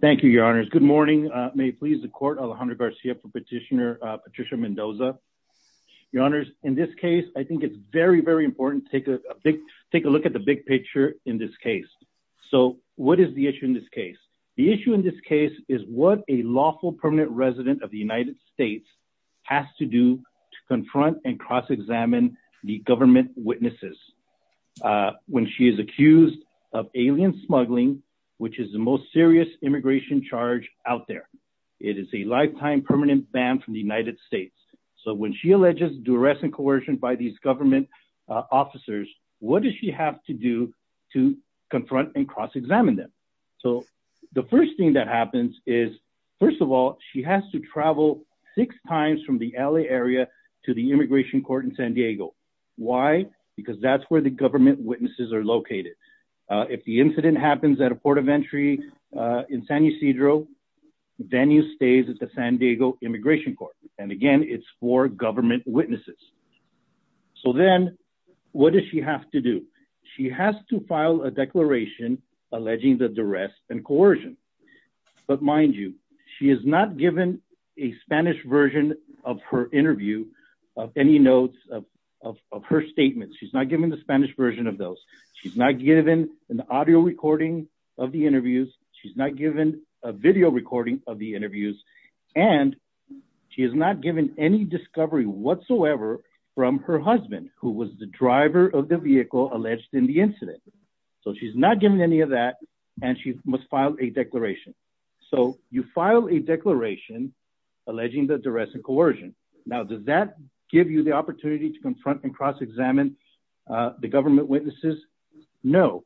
Thank you, your honors. Good morning. May it please the court, Alejandro Garcia for Petitioner Patricia Mendoza. Your honors, in this case, I think it's very, very important to take a look at the big picture in this case. So what is the issue in this case? The issue in this case is what a lawful permanent resident of the United States has to do to confront and cross-examine the government witnesses. When she is accused of alien smuggling, which is the most serious immigration charge out there. It is a lifetime permanent ban from the United States. So when she alleges duress and coercion by these government officers, what does she have to do to confront and cross-examine them? So the first thing that happens is, first of all, she has to travel six times from the LA area to the immigration court in San Diego. Why? Because that's where the government witnesses are located. If the incident happens at a port of entry in San Ysidro, then you stay at the San Diego immigration court. And again, it's for government witnesses. So then what does she have to do? She has to file a declaration alleging the duress and coercion. But mind you, she is not given a Spanish version of her interview, of any notes of her statements. She's not given the Spanish version of those. She's not given an audio recording of the interviews. She's not given a video recording of the interviews. And she is not given any discovery whatsoever from her husband, who was the driver of the vehicle alleged in the incident. So she's not given any of that and she must file a declaration. So you file a declaration alleging the duress and coercion. Now, does that give you the opportunity to confront and cross-examine the government witnesses? No.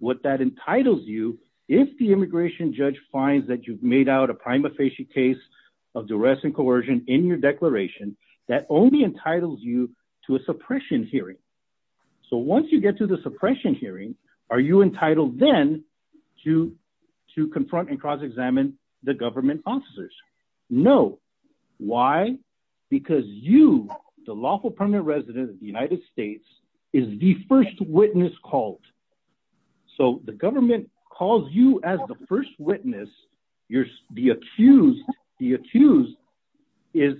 What that entitles you, if the immigration judge finds that you've made out a prima facie case of duress and coercion in your declaration, that only entitles you to a suppression hearing. So once you get to the suppression hearing, are you entitled then to confront and cross-examine the government officers? No. Why? Because you, the lawful permanent resident of the United States, is the first witness called. So the government calls you as the first witness. The accused is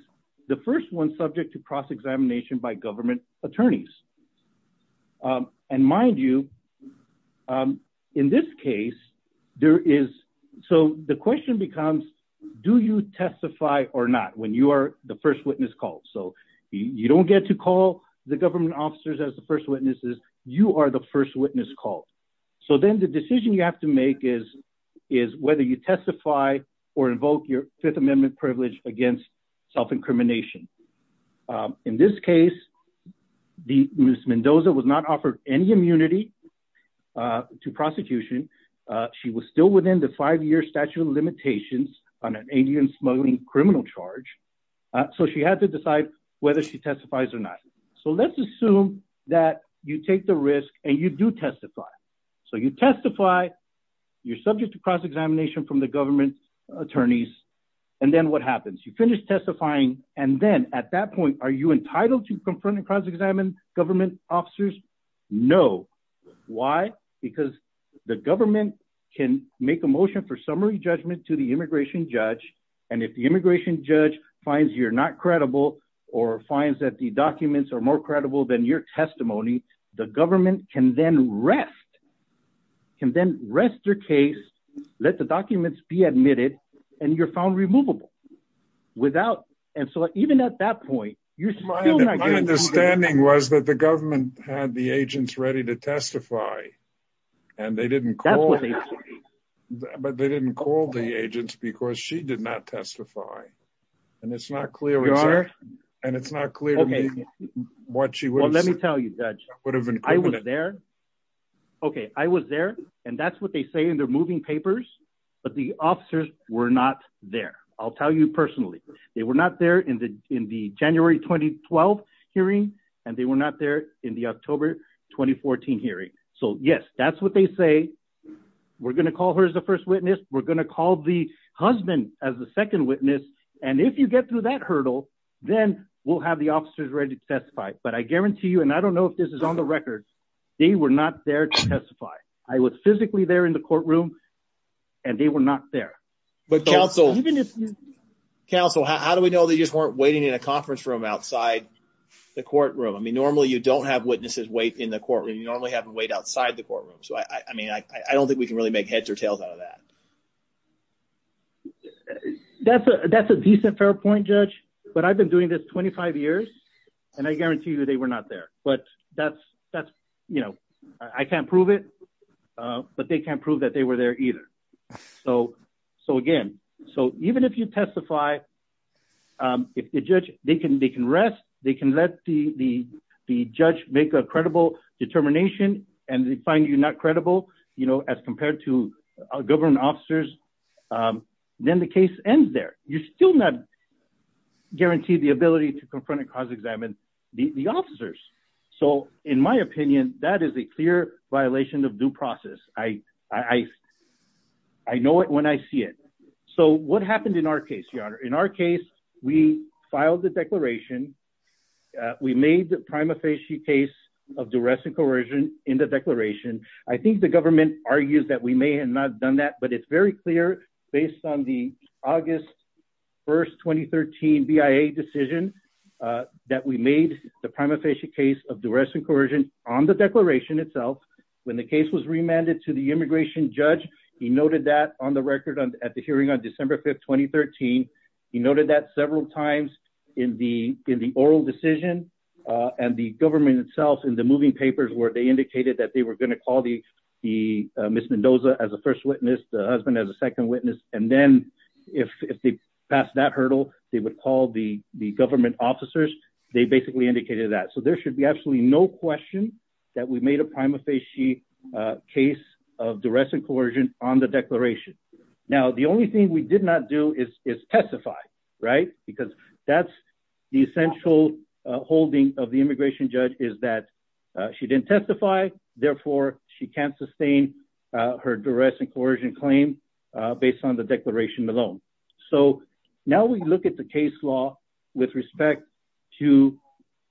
the first one subject to cross-examination by government attorneys. And mind you, in this case, there is, so the question becomes, do you testify or not when you are the first witness called? So you don't get to call the government officers as the first witnesses. You are the first witness called. So then the decision you have to make is whether you testify or invoke your Fifth Amendment privilege against self-incrimination. In this case, Ms. Mendoza was not offered any immunity to prosecution. She was still within the five-year statute of limitations on an 80-year smuggling criminal charge. So she had to decide whether she testifies or not. So let's assume that you take the risk and you do testify. So you testify. You're subject to cross-examination from the government attorneys. And then what happens? You finish testifying. And then at that point, are you entitled to confront and cross-examine government officers? No. Why? Because the government can make a motion for summary judgment to the immigration judge. And if the immigration judge finds you're not credible or finds that the documents are more credible than your testimony, the government can then rest. Can then rest their case, let the documents be admitted, and you're found removable. And so even at that point, you're still not credible. My understanding was that the government had the agents ready to testify, but they didn't call the agents because she did not testify. And it's not clear to me what she would have included. OK, I was there. And that's what they say in their moving papers. But the officers were not there. I'll tell you personally, they were not there in the January 2012 hearing, and they were not there in the October 2014 hearing. So, yes, that's what they say. We're going to call her as the first witness. We're going to call the husband as the second witness. And if you get through that hurdle, then we'll have the officers ready to testify. But I guarantee you, and I don't know if this is on the record, they were not there to testify. I was physically there in the courtroom and they were not there. But counsel, counsel, how do we know they just weren't waiting in a conference room outside the courtroom? I mean, normally you don't have witnesses wait in the courtroom. You normally have them wait outside the courtroom. So, I mean, I don't think we can really make heads or tails out of that. That's a that's a decent fair point, Judge. But I've been doing this 25 years and I guarantee you they were not there. But that's that's you know, I can't prove it, but they can't prove that they were there either. So so again, so even if you testify, if the judge they can they can rest, they can let the the the judge make a credible determination. And they find you not credible, you know, as compared to government officers, then the case ends there. You're still not guaranteed the ability to confront and cause examine the officers. So in my opinion, that is a clear violation of due process. I, I, I know it when I see it. So what happened in our case? In our case, we filed the declaration. We made the prima facie case of duress and coercion in the declaration. I think the government argues that we may have not done that, but it's very clear based on the August 1st, 2013 BIA decision that we made the prima facie case of duress and coercion on the declaration itself. When the case was remanded to the immigration judge, he noted that on the record at the hearing on December 5th, 2013. He noted that several times in the in the oral decision and the government itself in the moving papers where they indicated that they were going to call the the Ms. Mendoza as a first witness, the husband as a second witness. And then if they pass that hurdle, they would call the the government officers. They basically indicated that. So there should be absolutely no question that we made a prima facie case of duress and coercion on the declaration. Now, the only thing we did not do is testify. Right. Because that's the essential holding of the immigration judge is that she didn't testify. Therefore, she can't sustain her duress and coercion claim based on the declaration alone. So now we look at the case law with respect to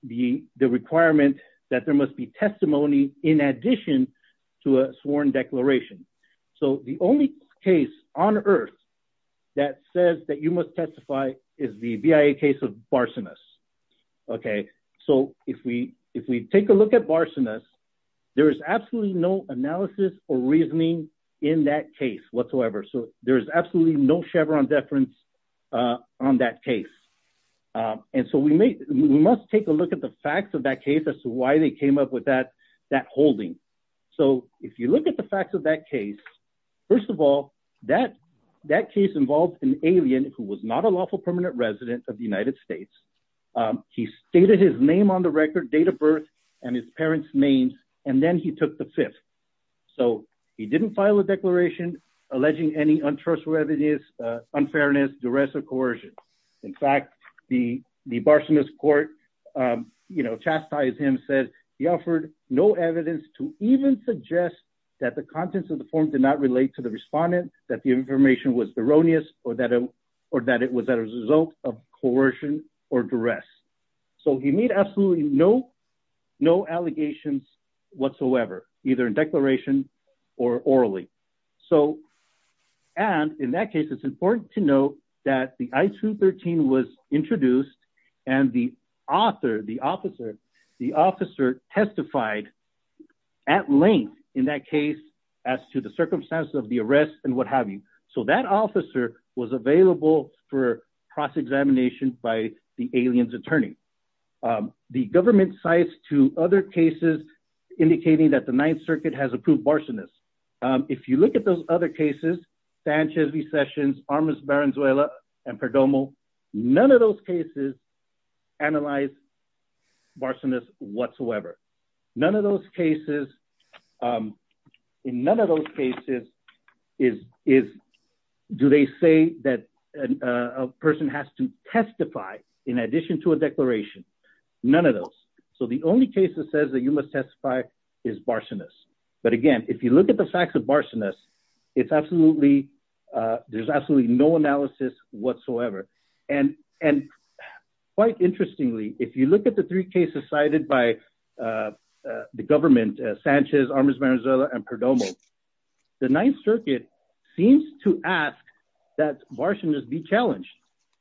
the requirement that there must be testimony in addition to a sworn declaration. So the only case on earth that says that you must testify is the BIA case of Barcenas. OK, so if we if we take a look at Barcenas, there is absolutely no analysis or reasoning in that case whatsoever. So there is absolutely no Chevron deference on that case. And so we must take a look at the facts of that case as to why they came up with that that holding. So if you look at the facts of that case, first of all, that that case involved an alien who was not a lawful permanent resident of the United States. He stated his name on the record, date of birth and his parents names. And then he took the fifth. So he didn't file a declaration alleging any untrustworthiness, unfairness, duress or coercion. In fact, the the Barcenas court, you know, chastised him, said he offered no evidence to even suggest that the contents of the form did not relate to the respondent, that the information was erroneous or that or that it was a result of coercion or duress. So he made absolutely no no allegations whatsoever, either in declaration or orally. So and in that case, it's important to note that the I-213 was introduced and the author, the officer, the officer testified at length in that case as to the circumstances of the arrest and what have you. So that officer was available for cross examination by the alien's attorney. The government cites two other cases indicating that the Ninth Circuit has approved Barcenas. If you look at those other cases, Sanchez, V. Sessions, Armas, Barenzuela and Perdomo, none of those cases analyze Barcenas whatsoever. None of those cases. In none of those cases is is do they say that a person has to testify in addition to a declaration? None of those. So the only case that says that you must testify is Barcenas. But again, if you look at the facts of Barcenas, it's absolutely there's absolutely no analysis whatsoever. And and quite interestingly, if you look at the three cases cited by the government, Sanchez, Armas, Barenzuela and Perdomo, the Ninth Circuit seems to ask that Barcenas be challenged.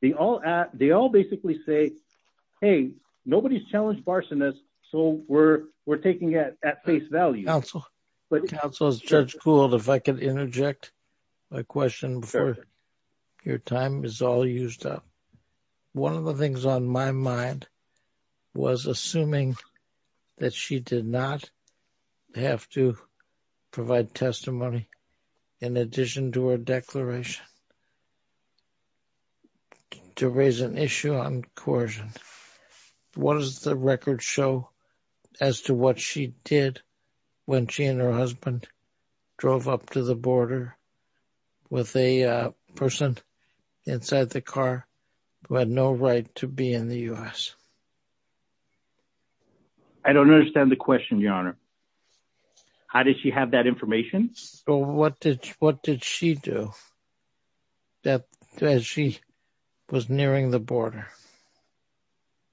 They all they all basically say, hey, nobody's challenged Barcenas. So we're we're taking it at face value. Counsel Judge Gould, if I could interject my question for your time is all used up. One of the things on my mind was assuming that she did not have to provide testimony in addition to her declaration. To raise an issue on coercion, what does the record show as to what she did when she and her husband drove up to the border with a person inside the car who had no right to be in the US? I don't understand the question, Your Honor. How did she have that information? So what did what did she do? That she was nearing the border.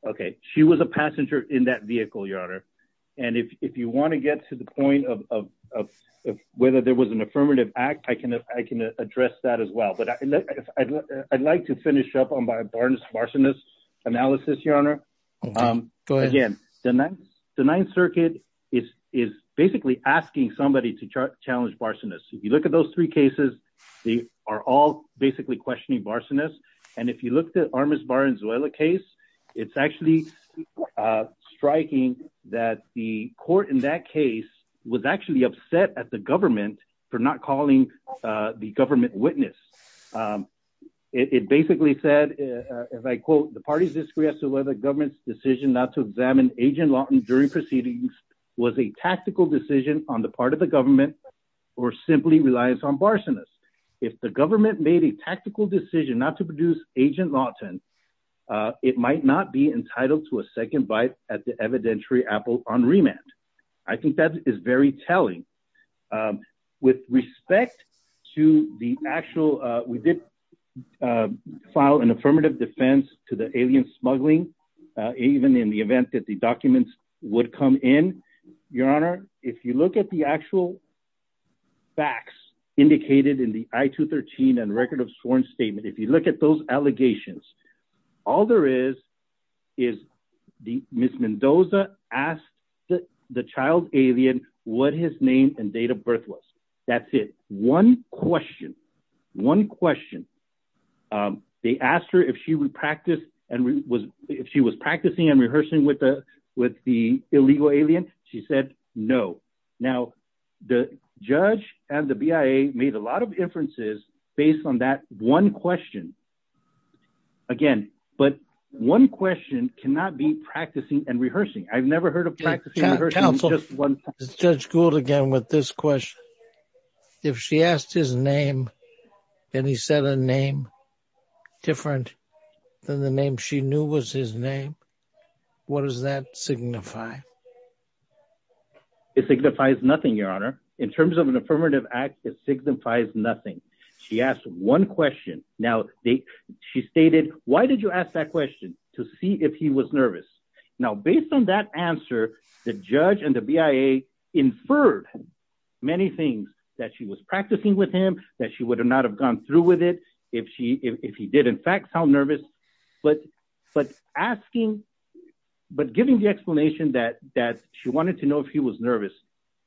OK, she was a passenger in that vehicle, Your Honor. And if you want to get to the point of whether there was an affirmative act, I can I can address that as well. But I'd like to finish up on my Barcenas analysis, Your Honor. Again, the Ninth Circuit is is basically asking somebody to challenge Barcenas. If you look at those three cases, they are all basically questioning Barcenas. And if you look at Armis Barenzuela case, it's actually striking that the court in that case was actually upset at the government for not calling the government witness. It basically said, as I quote, the parties disagree as to whether the government's decision not to examine Agent Lawton during proceedings was a tactical decision on the part of the government or simply relies on Barcenas. If the government made a tactical decision not to produce Agent Lawton, it might not be entitled to a second bite at the evidentiary apple on remand. I think that is very telling. With respect to the actual, we did file an affirmative defense to the alien smuggling, even in the event that the documents would come in. Your Honor, if you look at the actual facts indicated in the I-213 and Record of Sworn Statement, if you look at those allegations, all there is is the Ms. Mendoza asked the child alien what his name and date of birth was. That's it. One question. One question. They asked her if she was practicing and rehearsing with the illegal alien. She said no. Now, the judge and the BIA made a lot of inferences based on that one question. Again, but one question cannot be practicing and rehearsing. I've never heard of practicing and rehearsing. Counsel, Judge Gould again with this question. If she asked his name and he said a name different than the name she knew was his name, what does that signify? It signifies nothing, Your Honor. In terms of an affirmative act, it signifies nothing. She asked one question. Now, she stated, why did you ask that question? To see if he was nervous. Now, based on that answer, the judge and the BIA inferred many things that she was practicing with him, that she would not have gone through with it if he did in fact sound nervous. But giving the explanation that she wanted to know if he was nervous,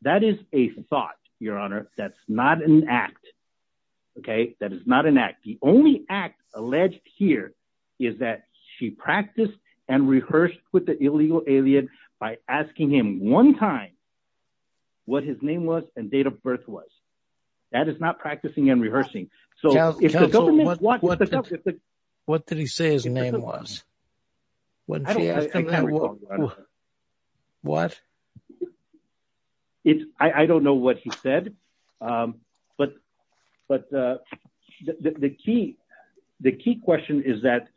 that is a thought, Your Honor. That's not an act. That is not an act. The only act alleged here is that she practiced and rehearsed with the illegal alien by asking him one time what his name was and date of birth was. That is not practicing and rehearsing. Counsel, what did he say his name was? I don't know what he said, but the key question is that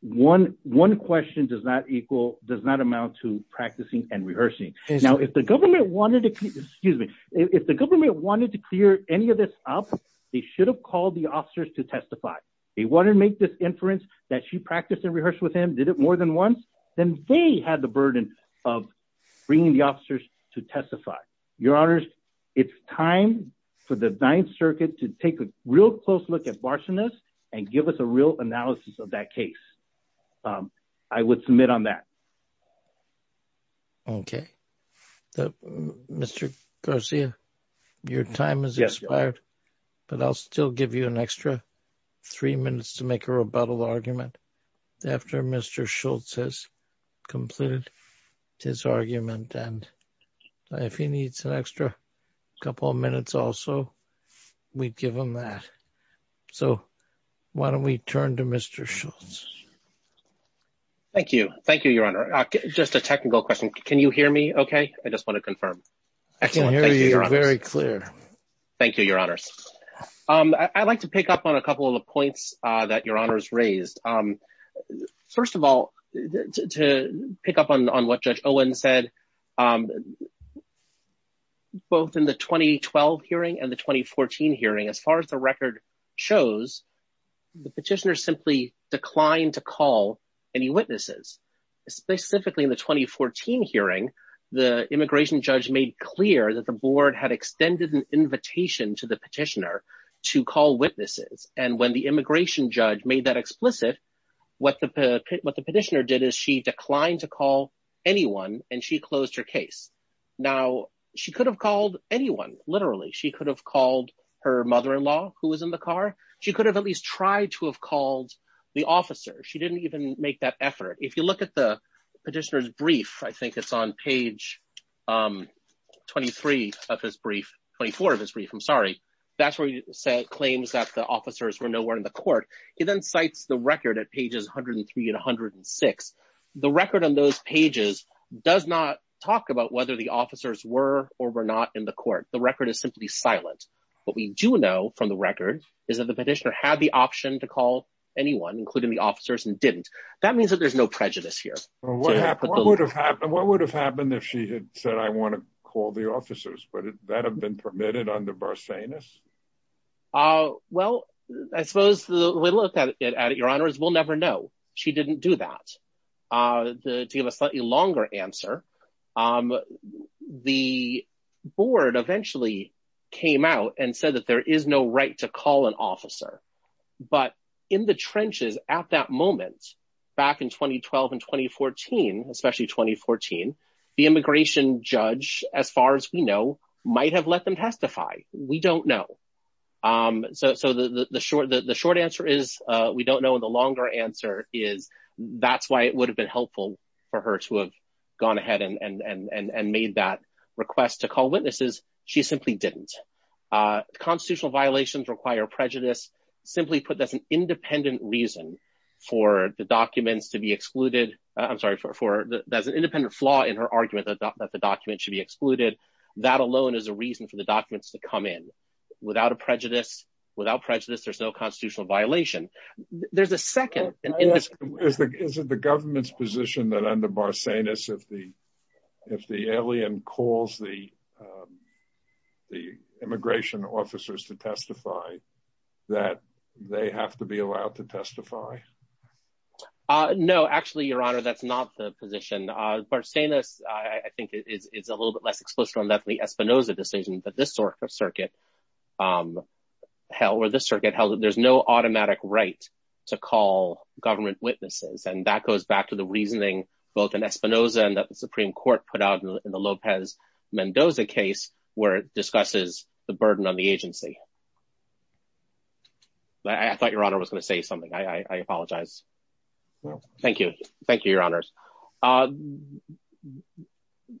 one question does not equal, does not amount to practicing and rehearsing. Now, if the government wanted to clear any of this up, they should have called the officers to testify. They want to make this inference that she practiced and rehearsed with him, did it more than once, then they had the burden of bringing the officers to testify. Your Honors, it's time for the Ninth Circuit to take a real close look at Varsanas and give us a real analysis of that case. I would submit on that. Okay, Mr. Garcia, your time is expired, but I'll still give you an extra three minutes to make a rebuttal argument after Mr. Schultz has completed his argument. And if he needs an extra couple of minutes, also, we'd give him that. So why don't we turn to Mr. Schultz? Thank you. Thank you, Your Honor. Just a technical question. Can you hear me okay? I just want to confirm. I can hear you very clear. Thank you, Your Honors. I'd like to pick up on a couple of the points that Your Honors raised. First of all, to pick up on what Judge Owen said, both in the 2012 hearing and the 2014 hearing, as far as the record shows, the petitioner simply declined to call any witnesses. Specifically in the 2014 hearing, the immigration judge made clear that the board had extended an invitation to the petitioner to call witnesses. And when the immigration judge made that explicit, what the petitioner did is she declined to call anyone, and she closed her case. Now, she could have called anyone, literally. She could have called her mother-in-law, who was in the car. She could have at least tried to have called the officer. She didn't even make that effort. If you look at the petitioner's brief, I think it's on page 23 of his brief – 24 of his brief, I'm sorry. That's where he claims that the officers were nowhere in the court. He then cites the record at pages 103 and 106. The record on those pages does not talk about whether the officers were or were not in the court. The record is simply silent. What we do know from the record is that the petitioner had the option to call anyone, including the officers, and didn't. That means that there's no prejudice here. What would have happened if she had said, I want to call the officers? Would that have been permitted under Barsanis? Well, I suppose the way to look at it, Your Honor, is we'll never know. She didn't do that. To give a slightly longer answer, the board eventually came out and said that there is no right to call an officer. But in the trenches at that moment, back in 2012 and 2014, especially 2014, the immigration judge, as far as we know, might have let them testify. We don't know. So the short answer is we don't know. And the longer answer is that's why it would have been helpful for her to have gone ahead and made that request to call witnesses. She simply didn't. Constitutional violations require prejudice. Simply put, that's an independent reason for the documents to be excluded. I'm sorry, that's an independent flaw in her argument that the documents should be excluded. That alone is a reason for the documents to come in. Without a prejudice, without prejudice, there's no constitutional violation. There's a second. Is it the government's position that under Barsanis, if the alien calls the immigration officers to testify, that they have to be allowed to testify? No, actually, Your Honor, that's not the position. Barsanis, I think, is a little bit less explicit on that than the Espinoza decision. But this sort of circuit held that there's no automatic right to call government witnesses. And that goes back to the reasoning both in Espinoza and that the Supreme Court put out in the Lopez Mendoza case where it discusses the burden on the agency. I thought Your Honor was going to say something. I apologize. Thank you. Thank you, Your Honors.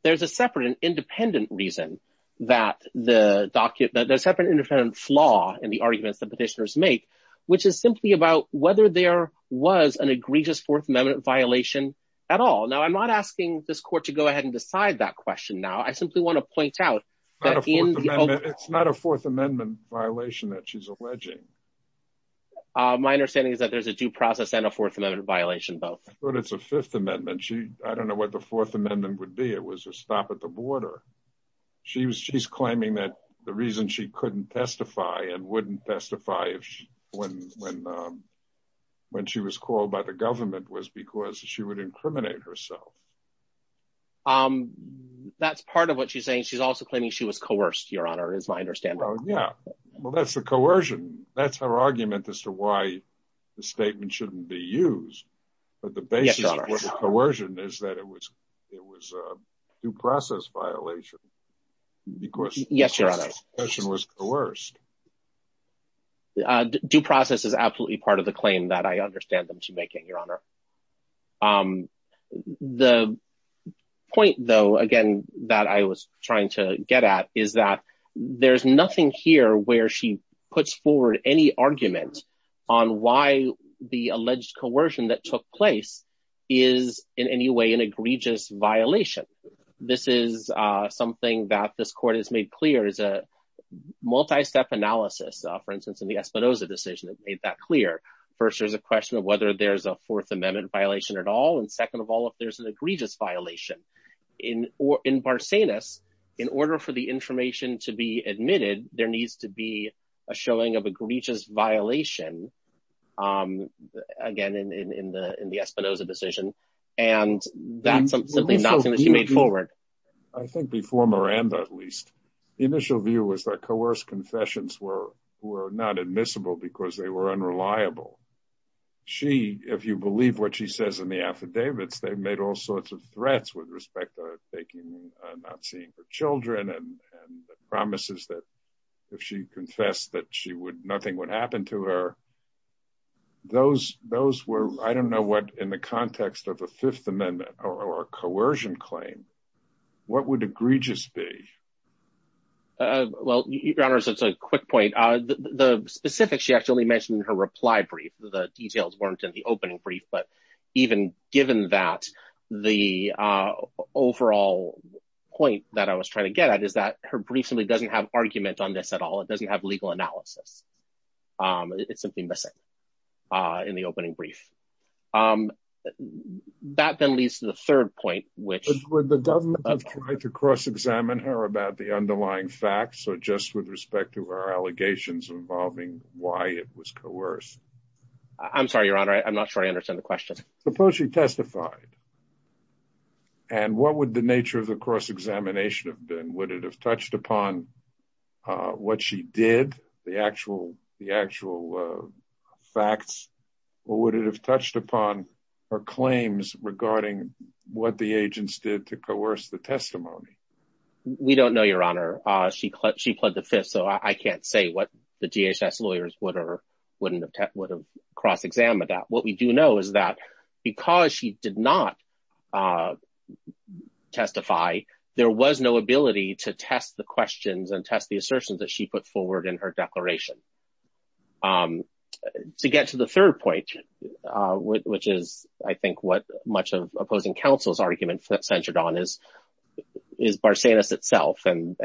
There's a separate and independent reason that the document does have an independent flaw in the arguments that petitioners make, which is simply about whether there was an egregious Fourth Amendment violation at all. Now, I'm not asking this court to go ahead and decide that question. Now, I simply want to point out that it's not a Fourth Amendment violation that she's alleging. My understanding is that there's a due process and a Fourth Amendment violation, both. But it's a Fifth Amendment. I don't know what the Fourth Amendment would be. It was a stop at the border. She's claiming that the reason she couldn't testify and wouldn't testify when she was called by the government was because she would incriminate herself. That's part of what she's saying. She's also claiming she was coerced, Your Honor, is my understanding. Well, yeah. Well, that's the coercion. That's her argument as to why the statement shouldn't be used. But the basis of coercion is that it was a due process violation because the person was coerced. Due process is absolutely part of the claim that I understand them to making, Your Honor. The point, though, again, that I was trying to get at is that there's nothing here where she puts forward any argument on why the alleged coercion that took place is in any way an egregious violation. This is something that this court has made clear is a multi-step analysis. For instance, in the Espinoza decision, it made that clear. First, there's a question of whether there's a Fourth Amendment violation at all. And second of all, if there's an egregious violation in Barsanis, in order for the information to be admitted, there needs to be a showing of egregious violation, again, in the Espinoza decision. And that's simply not something that she made forward. I think before Miranda, at least, the initial view was that coerced confessions were not admissible because they were unreliable. She, if you believe what she says in the affidavits, they made all sorts of threats with respect to not seeing her children and promises that if she confessed that nothing would happen to her. Those were, I don't know what, in the context of a Fifth Amendment or a coercion claim, what would egregious be? Well, Your Honors, that's a quick point. The specifics she actually mentioned in her reply brief, the details weren't in the opening brief. But even given that, the overall point that I was trying to get at is that her brief simply doesn't have argument on this at all. It doesn't have legal analysis. It's simply missing in the opening brief. That then leads to the third point, which— Would the government have tried to cross-examine her about the underlying facts or just with respect to her allegations involving why it was coerced? I'm sorry, Your Honor, I'm not sure I understand the question. Suppose she testified. And what would the nature of the cross-examination have been? Would it have touched upon what she did, the actual facts? Or would it have touched upon her claims regarding what the agents did to coerce the testimony? We don't know, Your Honor. She pled the fifth, so I can't say what the DHS lawyers would have cross-examined that. What we do know is that because she did not testify, there was no ability to test the questions and test the assertions that she put forward in her declaration. To get to the third point, which is I think what much of opposing counsel's argument centered on, is Barsanis itself and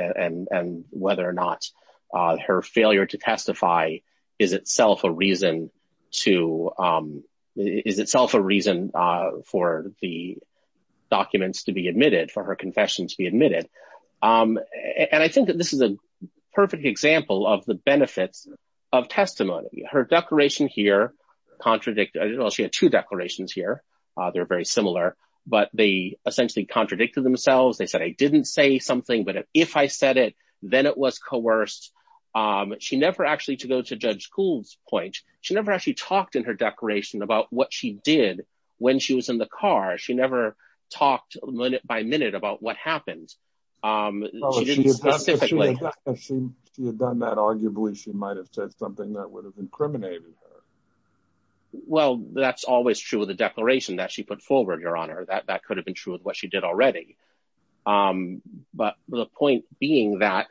whether or not her failure to testify is itself a reason for the documents to be admitted, for her confession to be admitted. And I think that this is a perfect example of the benefits of testimony. Her declaration here contradicted – well, she had two declarations here. They're very similar, but they essentially contradicted themselves. They said, I didn't say something, but if I said it, then it was coerced. She never actually – to go to Judge Kuhl's point – she never actually talked in her declaration about what she did when she was in the car. She never talked minute-by-minute about what happened. She didn't specifically – If she had done that, arguably, she might have said something that would have incriminated her. Well, that's always true of the declaration that she put forward, Your Honor. That could have been true of what she did already. But the point being that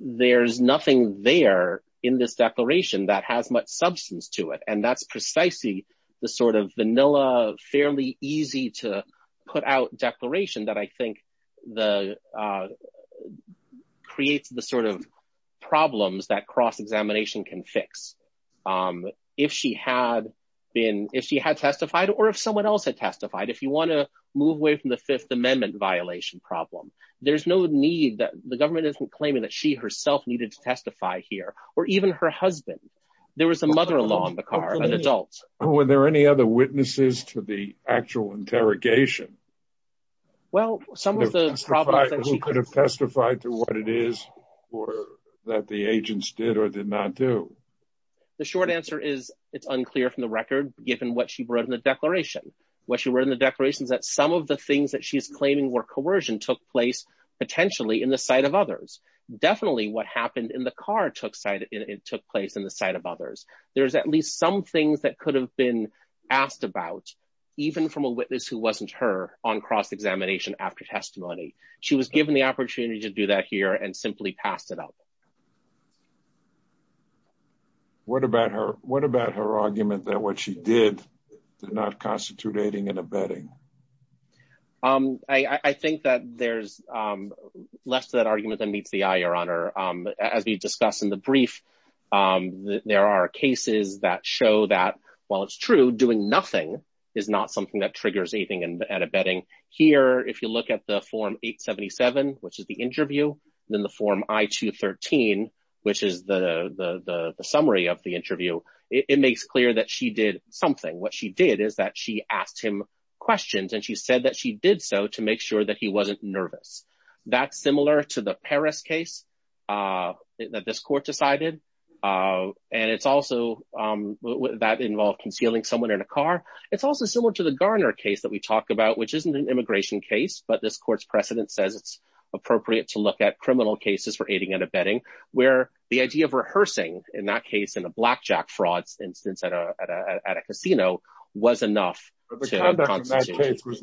there's nothing there in this declaration that has much substance to it, and that's precisely the sort of vanilla, fairly easy-to-put-out declaration that I think creates the sort of problems that cross-examination can fix. If she had testified, or if someone else had testified, if you want to move away from the Fifth Amendment violation problem, there's no need – the government isn't claiming that she herself needed to testify here, or even her husband. There was a mother-in-law in the car, an adult. Were there any other witnesses to the actual interrogation? Well, some of the problems that she – The short answer is it's unclear from the record, given what she wrote in the declaration. What she wrote in the declaration is that some of the things that she's claiming were coercion took place, potentially, in the sight of others. Definitely what happened in the car took place in the sight of others. There's at least some things that could have been asked about, even from a witness who wasn't her, on cross-examination after testimony. She was given the opportunity to do that here and simply passed it up. What about her argument that what she did did not constitute aiding and abetting? I think that there's less to that argument than meets the eye, Your Honor. As we discussed in the brief, there are cases that show that, while it's true, doing nothing is not something that triggers aiding and abetting. Here, if you look at the Form 877, which is the interview, then the Form I-213, which is the summary of the interview, it makes clear that she did something. What she did is that she asked him questions, and she said that she did so to make sure that he wasn't nervous. That's similar to the Paris case that this court decided, and it's also – that involved concealing someone in a car. It's also similar to the Garner case that we talked about, which isn't an immigration case, but this court's precedent says it's appropriate to look at criminal cases for aiding and abetting, where the idea of rehearsing, in that case, in a blackjack fraud instance at a casino, was enough to constitute aiding and abetting. She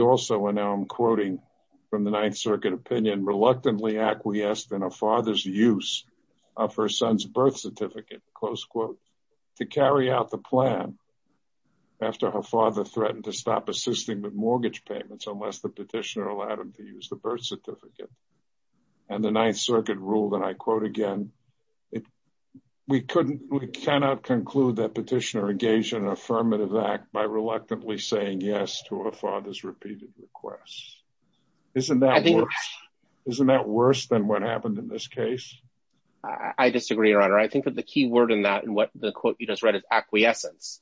also, and now I'm quoting from the Ninth Circuit opinion, reluctantly acquiesced in her father's use of her son's birth certificate, close quote, to carry out the plan after her father threatened to stop assisting with mortgage payments unless the petitioner allowed him to use the birth certificate. And the Ninth Circuit ruled, and I quote again, we cannot conclude that petitioner engaged in an affirmative act by reluctantly saying yes to her father's repeated requests. Isn't that worse? Isn't that worse than what happened in this case? I disagree, Your Honor. I think that the key word in that and what the quote you just read is acquiescence.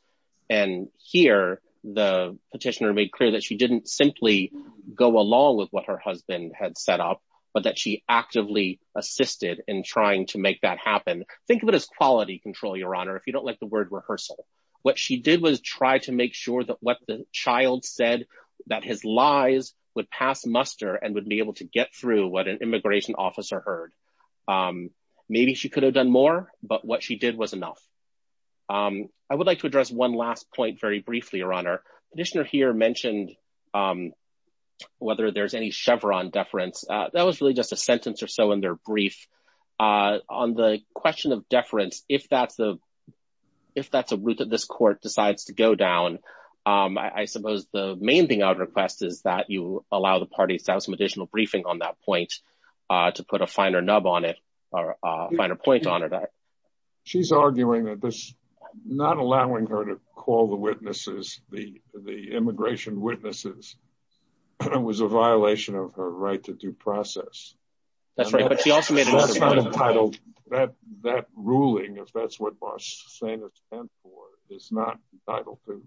And here, the petitioner made clear that she didn't simply go along with what her husband had set up, but that she actively assisted in trying to make that happen. Think of it as quality control, Your Honor, if you don't like the word rehearsal. What she did was try to make sure that what the child said that his lies would pass muster and would be able to get through what an immigration officer heard. Maybe she could have done more, but what she did was enough. I would like to address one last point very briefly, Your Honor. Petitioner here mentioned whether there's any Chevron deference. That was really just a sentence or so in their brief on the question of deference. If that's the if that's a route that this court decides to go down, I suppose the main thing I would request is that you allow the parties to have some additional briefing on that point to put a finer nub on it or a finer point on it. She's arguing that this not allowing her to call the witnesses, the the immigration witnesses. It was a violation of her right to due process. That's right. But she also made a title that that ruling, if that's what Barstain is not entitled to.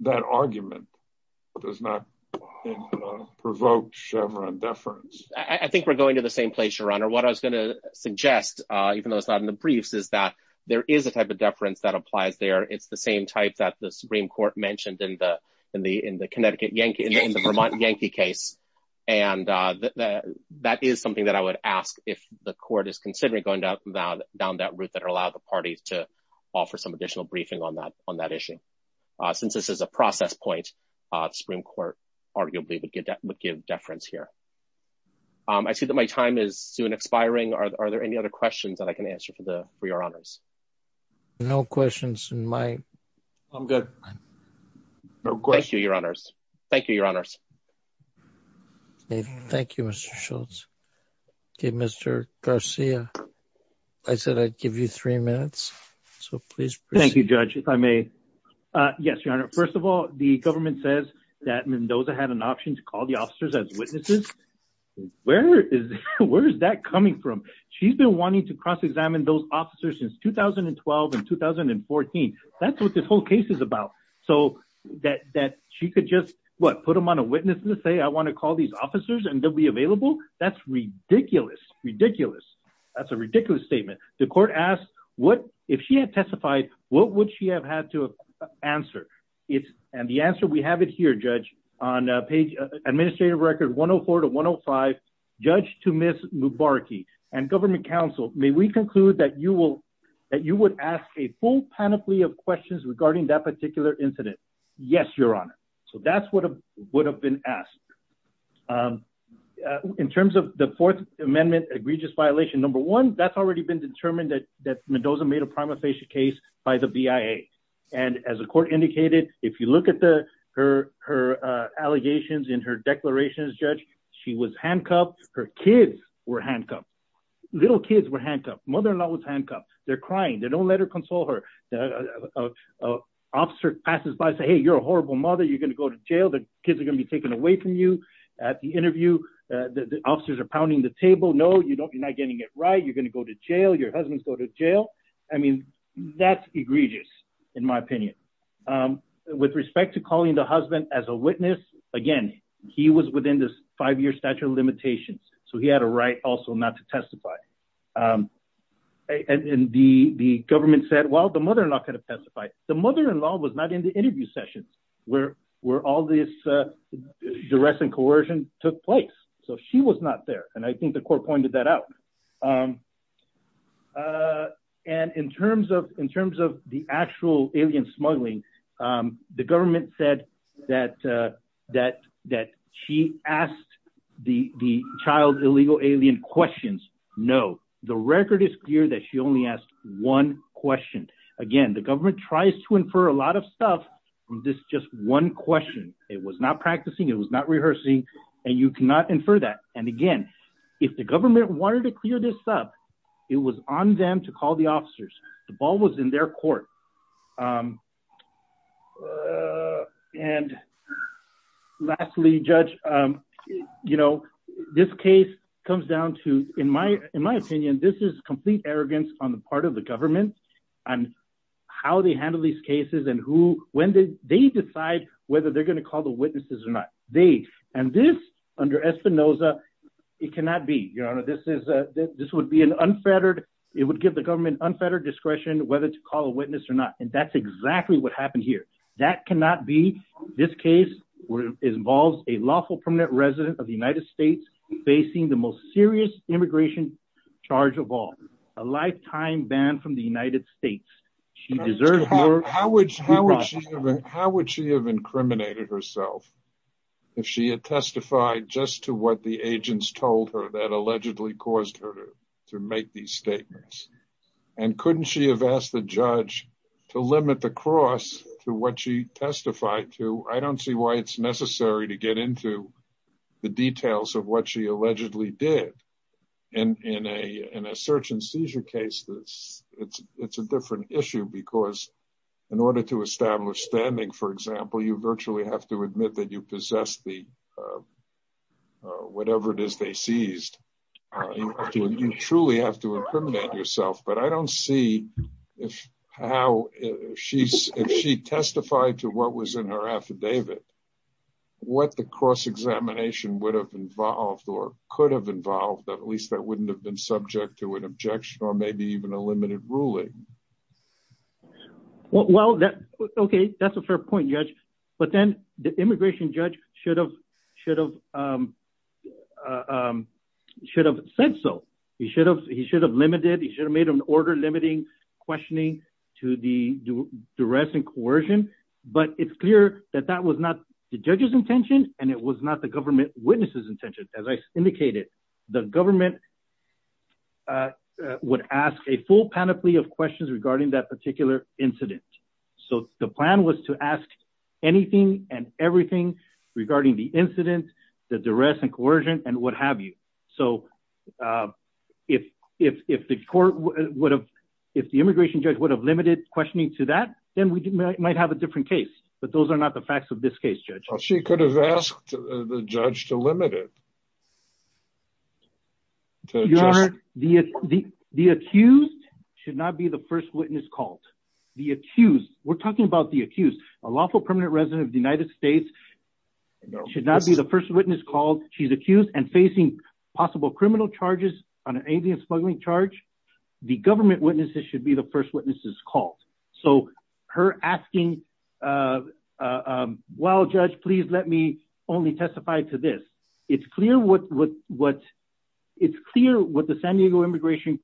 That argument does not provoke Chevron deference. I think we're going to the same place, Your Honor. What I was going to suggest, even though it's not in the briefs, is that there is a type of deference that applies there. It's the same type that the Supreme Court mentioned in the in the in the Connecticut Yankee in the Vermont Yankee case. And that is something that I would ask if the court is considering going down, down, down that route that allow the parties to offer some additional briefing on that on that issue. Since this is a process point, Supreme Court arguably would get that would give deference here. I see that my time is soon expiring. Are there any other questions that I can answer for the for your honors. No questions in my. I'm good. Thank you, Your Honors. Thank you, Your Honors. Thank you, Mr. Schultz. Mr. Garcia, I said I'd give you three minutes, so please. Thank you, Judge. If I may. Yes, Your Honor. First of all, the government says that Mendoza had an option to call the officers as witnesses. Where is where is that coming from? She's been wanting to cross examine those officers since 2012 and 2014. That's what this whole case is about. So that that she could just put them on a witness and say, I want to call these officers and they'll be available. That's ridiculous. Ridiculous. That's a ridiculous statement. The court asked what if she had testified, what would she have had to answer? It's and the answer, we have it here, Judge, on page administrative record one of four to one of five. Judge to Miss Mubaraki and government counsel, may we conclude that you will that you would ask a full panoply of questions regarding that particular incident? Yes, Your Honor. So that's what would have been asked in terms of the Fourth Amendment egregious violation. Number one, that's already been determined that that Mendoza made a prima facie case by the BIA. And as the court indicated, if you look at the her her allegations in her declarations, Judge, she was handcuffed. Her kids were handcuffed. Little kids were handcuffed. Mother-in-law was handcuffed. They're crying. They don't let her console her. The officer passes by, say, hey, you're a horrible mother. You're going to go to jail. The kids are going to be taken away from you at the interview. The officers are pounding the table. No, you don't. You're not getting it right. You're going to go to jail. Your husband's go to jail. I mean, that's egregious, in my opinion. With respect to calling the husband as a witness again, he was within this five year statute of limitations. So he had a right also not to testify. And the government said, well, the mother-in-law could have testified. The mother-in-law was not in the interview sessions where where all this duress and coercion took place. So she was not there. And I think the court pointed that out. And in terms of in terms of the actual alien smuggling, the government said that that that she asked the child illegal alien questions. No, the record is clear that she only asked one question. Again, the government tries to infer a lot of stuff. This just one question. It was not practicing. It was not rehearsing. And you cannot infer that. And again, if the government wanted to clear this up, it was on them to call the officers. The ball was in their court. And lastly, Judge, you know, this case comes down to, in my in my opinion, this is complete arrogance on the part of the government and how they handle these cases and who when they decide whether they're going to call the witnesses or not. They and this under Espinoza, it cannot be your honor. This is this would be an unfettered. It would give the government unfettered discretion whether to call a witness or not. And that's exactly what happened here. That cannot be. This case involves a lawful permanent resident of the United States facing the most serious immigration charge of all a lifetime ban from the United States. She deserves. How would she how would she have incriminated herself if she had testified just to what the agents told her that allegedly caused her to make these statements. And couldn't she have asked the judge to limit the cross to what she testified to? I don't see why it's necessary to get into the details of what she allegedly did. And in a in a search and seizure case, this it's it's a different issue because in order to establish standing, for example, you virtually have to admit that you possess the. Whatever it is, they seized. You truly have to incriminate yourself, but I don't see if how she's if she testified to what was in her affidavit. What the cross examination would have involved or could have involved, at least that wouldn't have been subject to an objection or maybe even a limited ruling. Well, that's OK. That's a fair point, Judge. But then the immigration judge should have should have should have said so. He should have he should have limited. He should have made an order limiting questioning to the duress and coercion. But it's clear that that was not the judge's intention and it was not the government witnesses intention. As I indicated, the government would ask a full panoply of questions regarding that particular incident. So the plan was to ask anything and everything regarding the incident, the duress and coercion and what have you. So if if if the court would have if the immigration judge would have limited questioning to that, then we might have a different case. But those are not the facts of this case, Judge. She could have asked the judge to limit it. The the accused should not be the first witness called the accused. We're talking about the accused, a lawful permanent resident of the United States should not be the first witness called. She's accused and facing possible criminal charges on an alien smuggling charge. The government witnesses should be the first witnesses called. So her asking, well, Judge, please let me only testify to this. It's clear what what what it's clear what the San Diego immigration.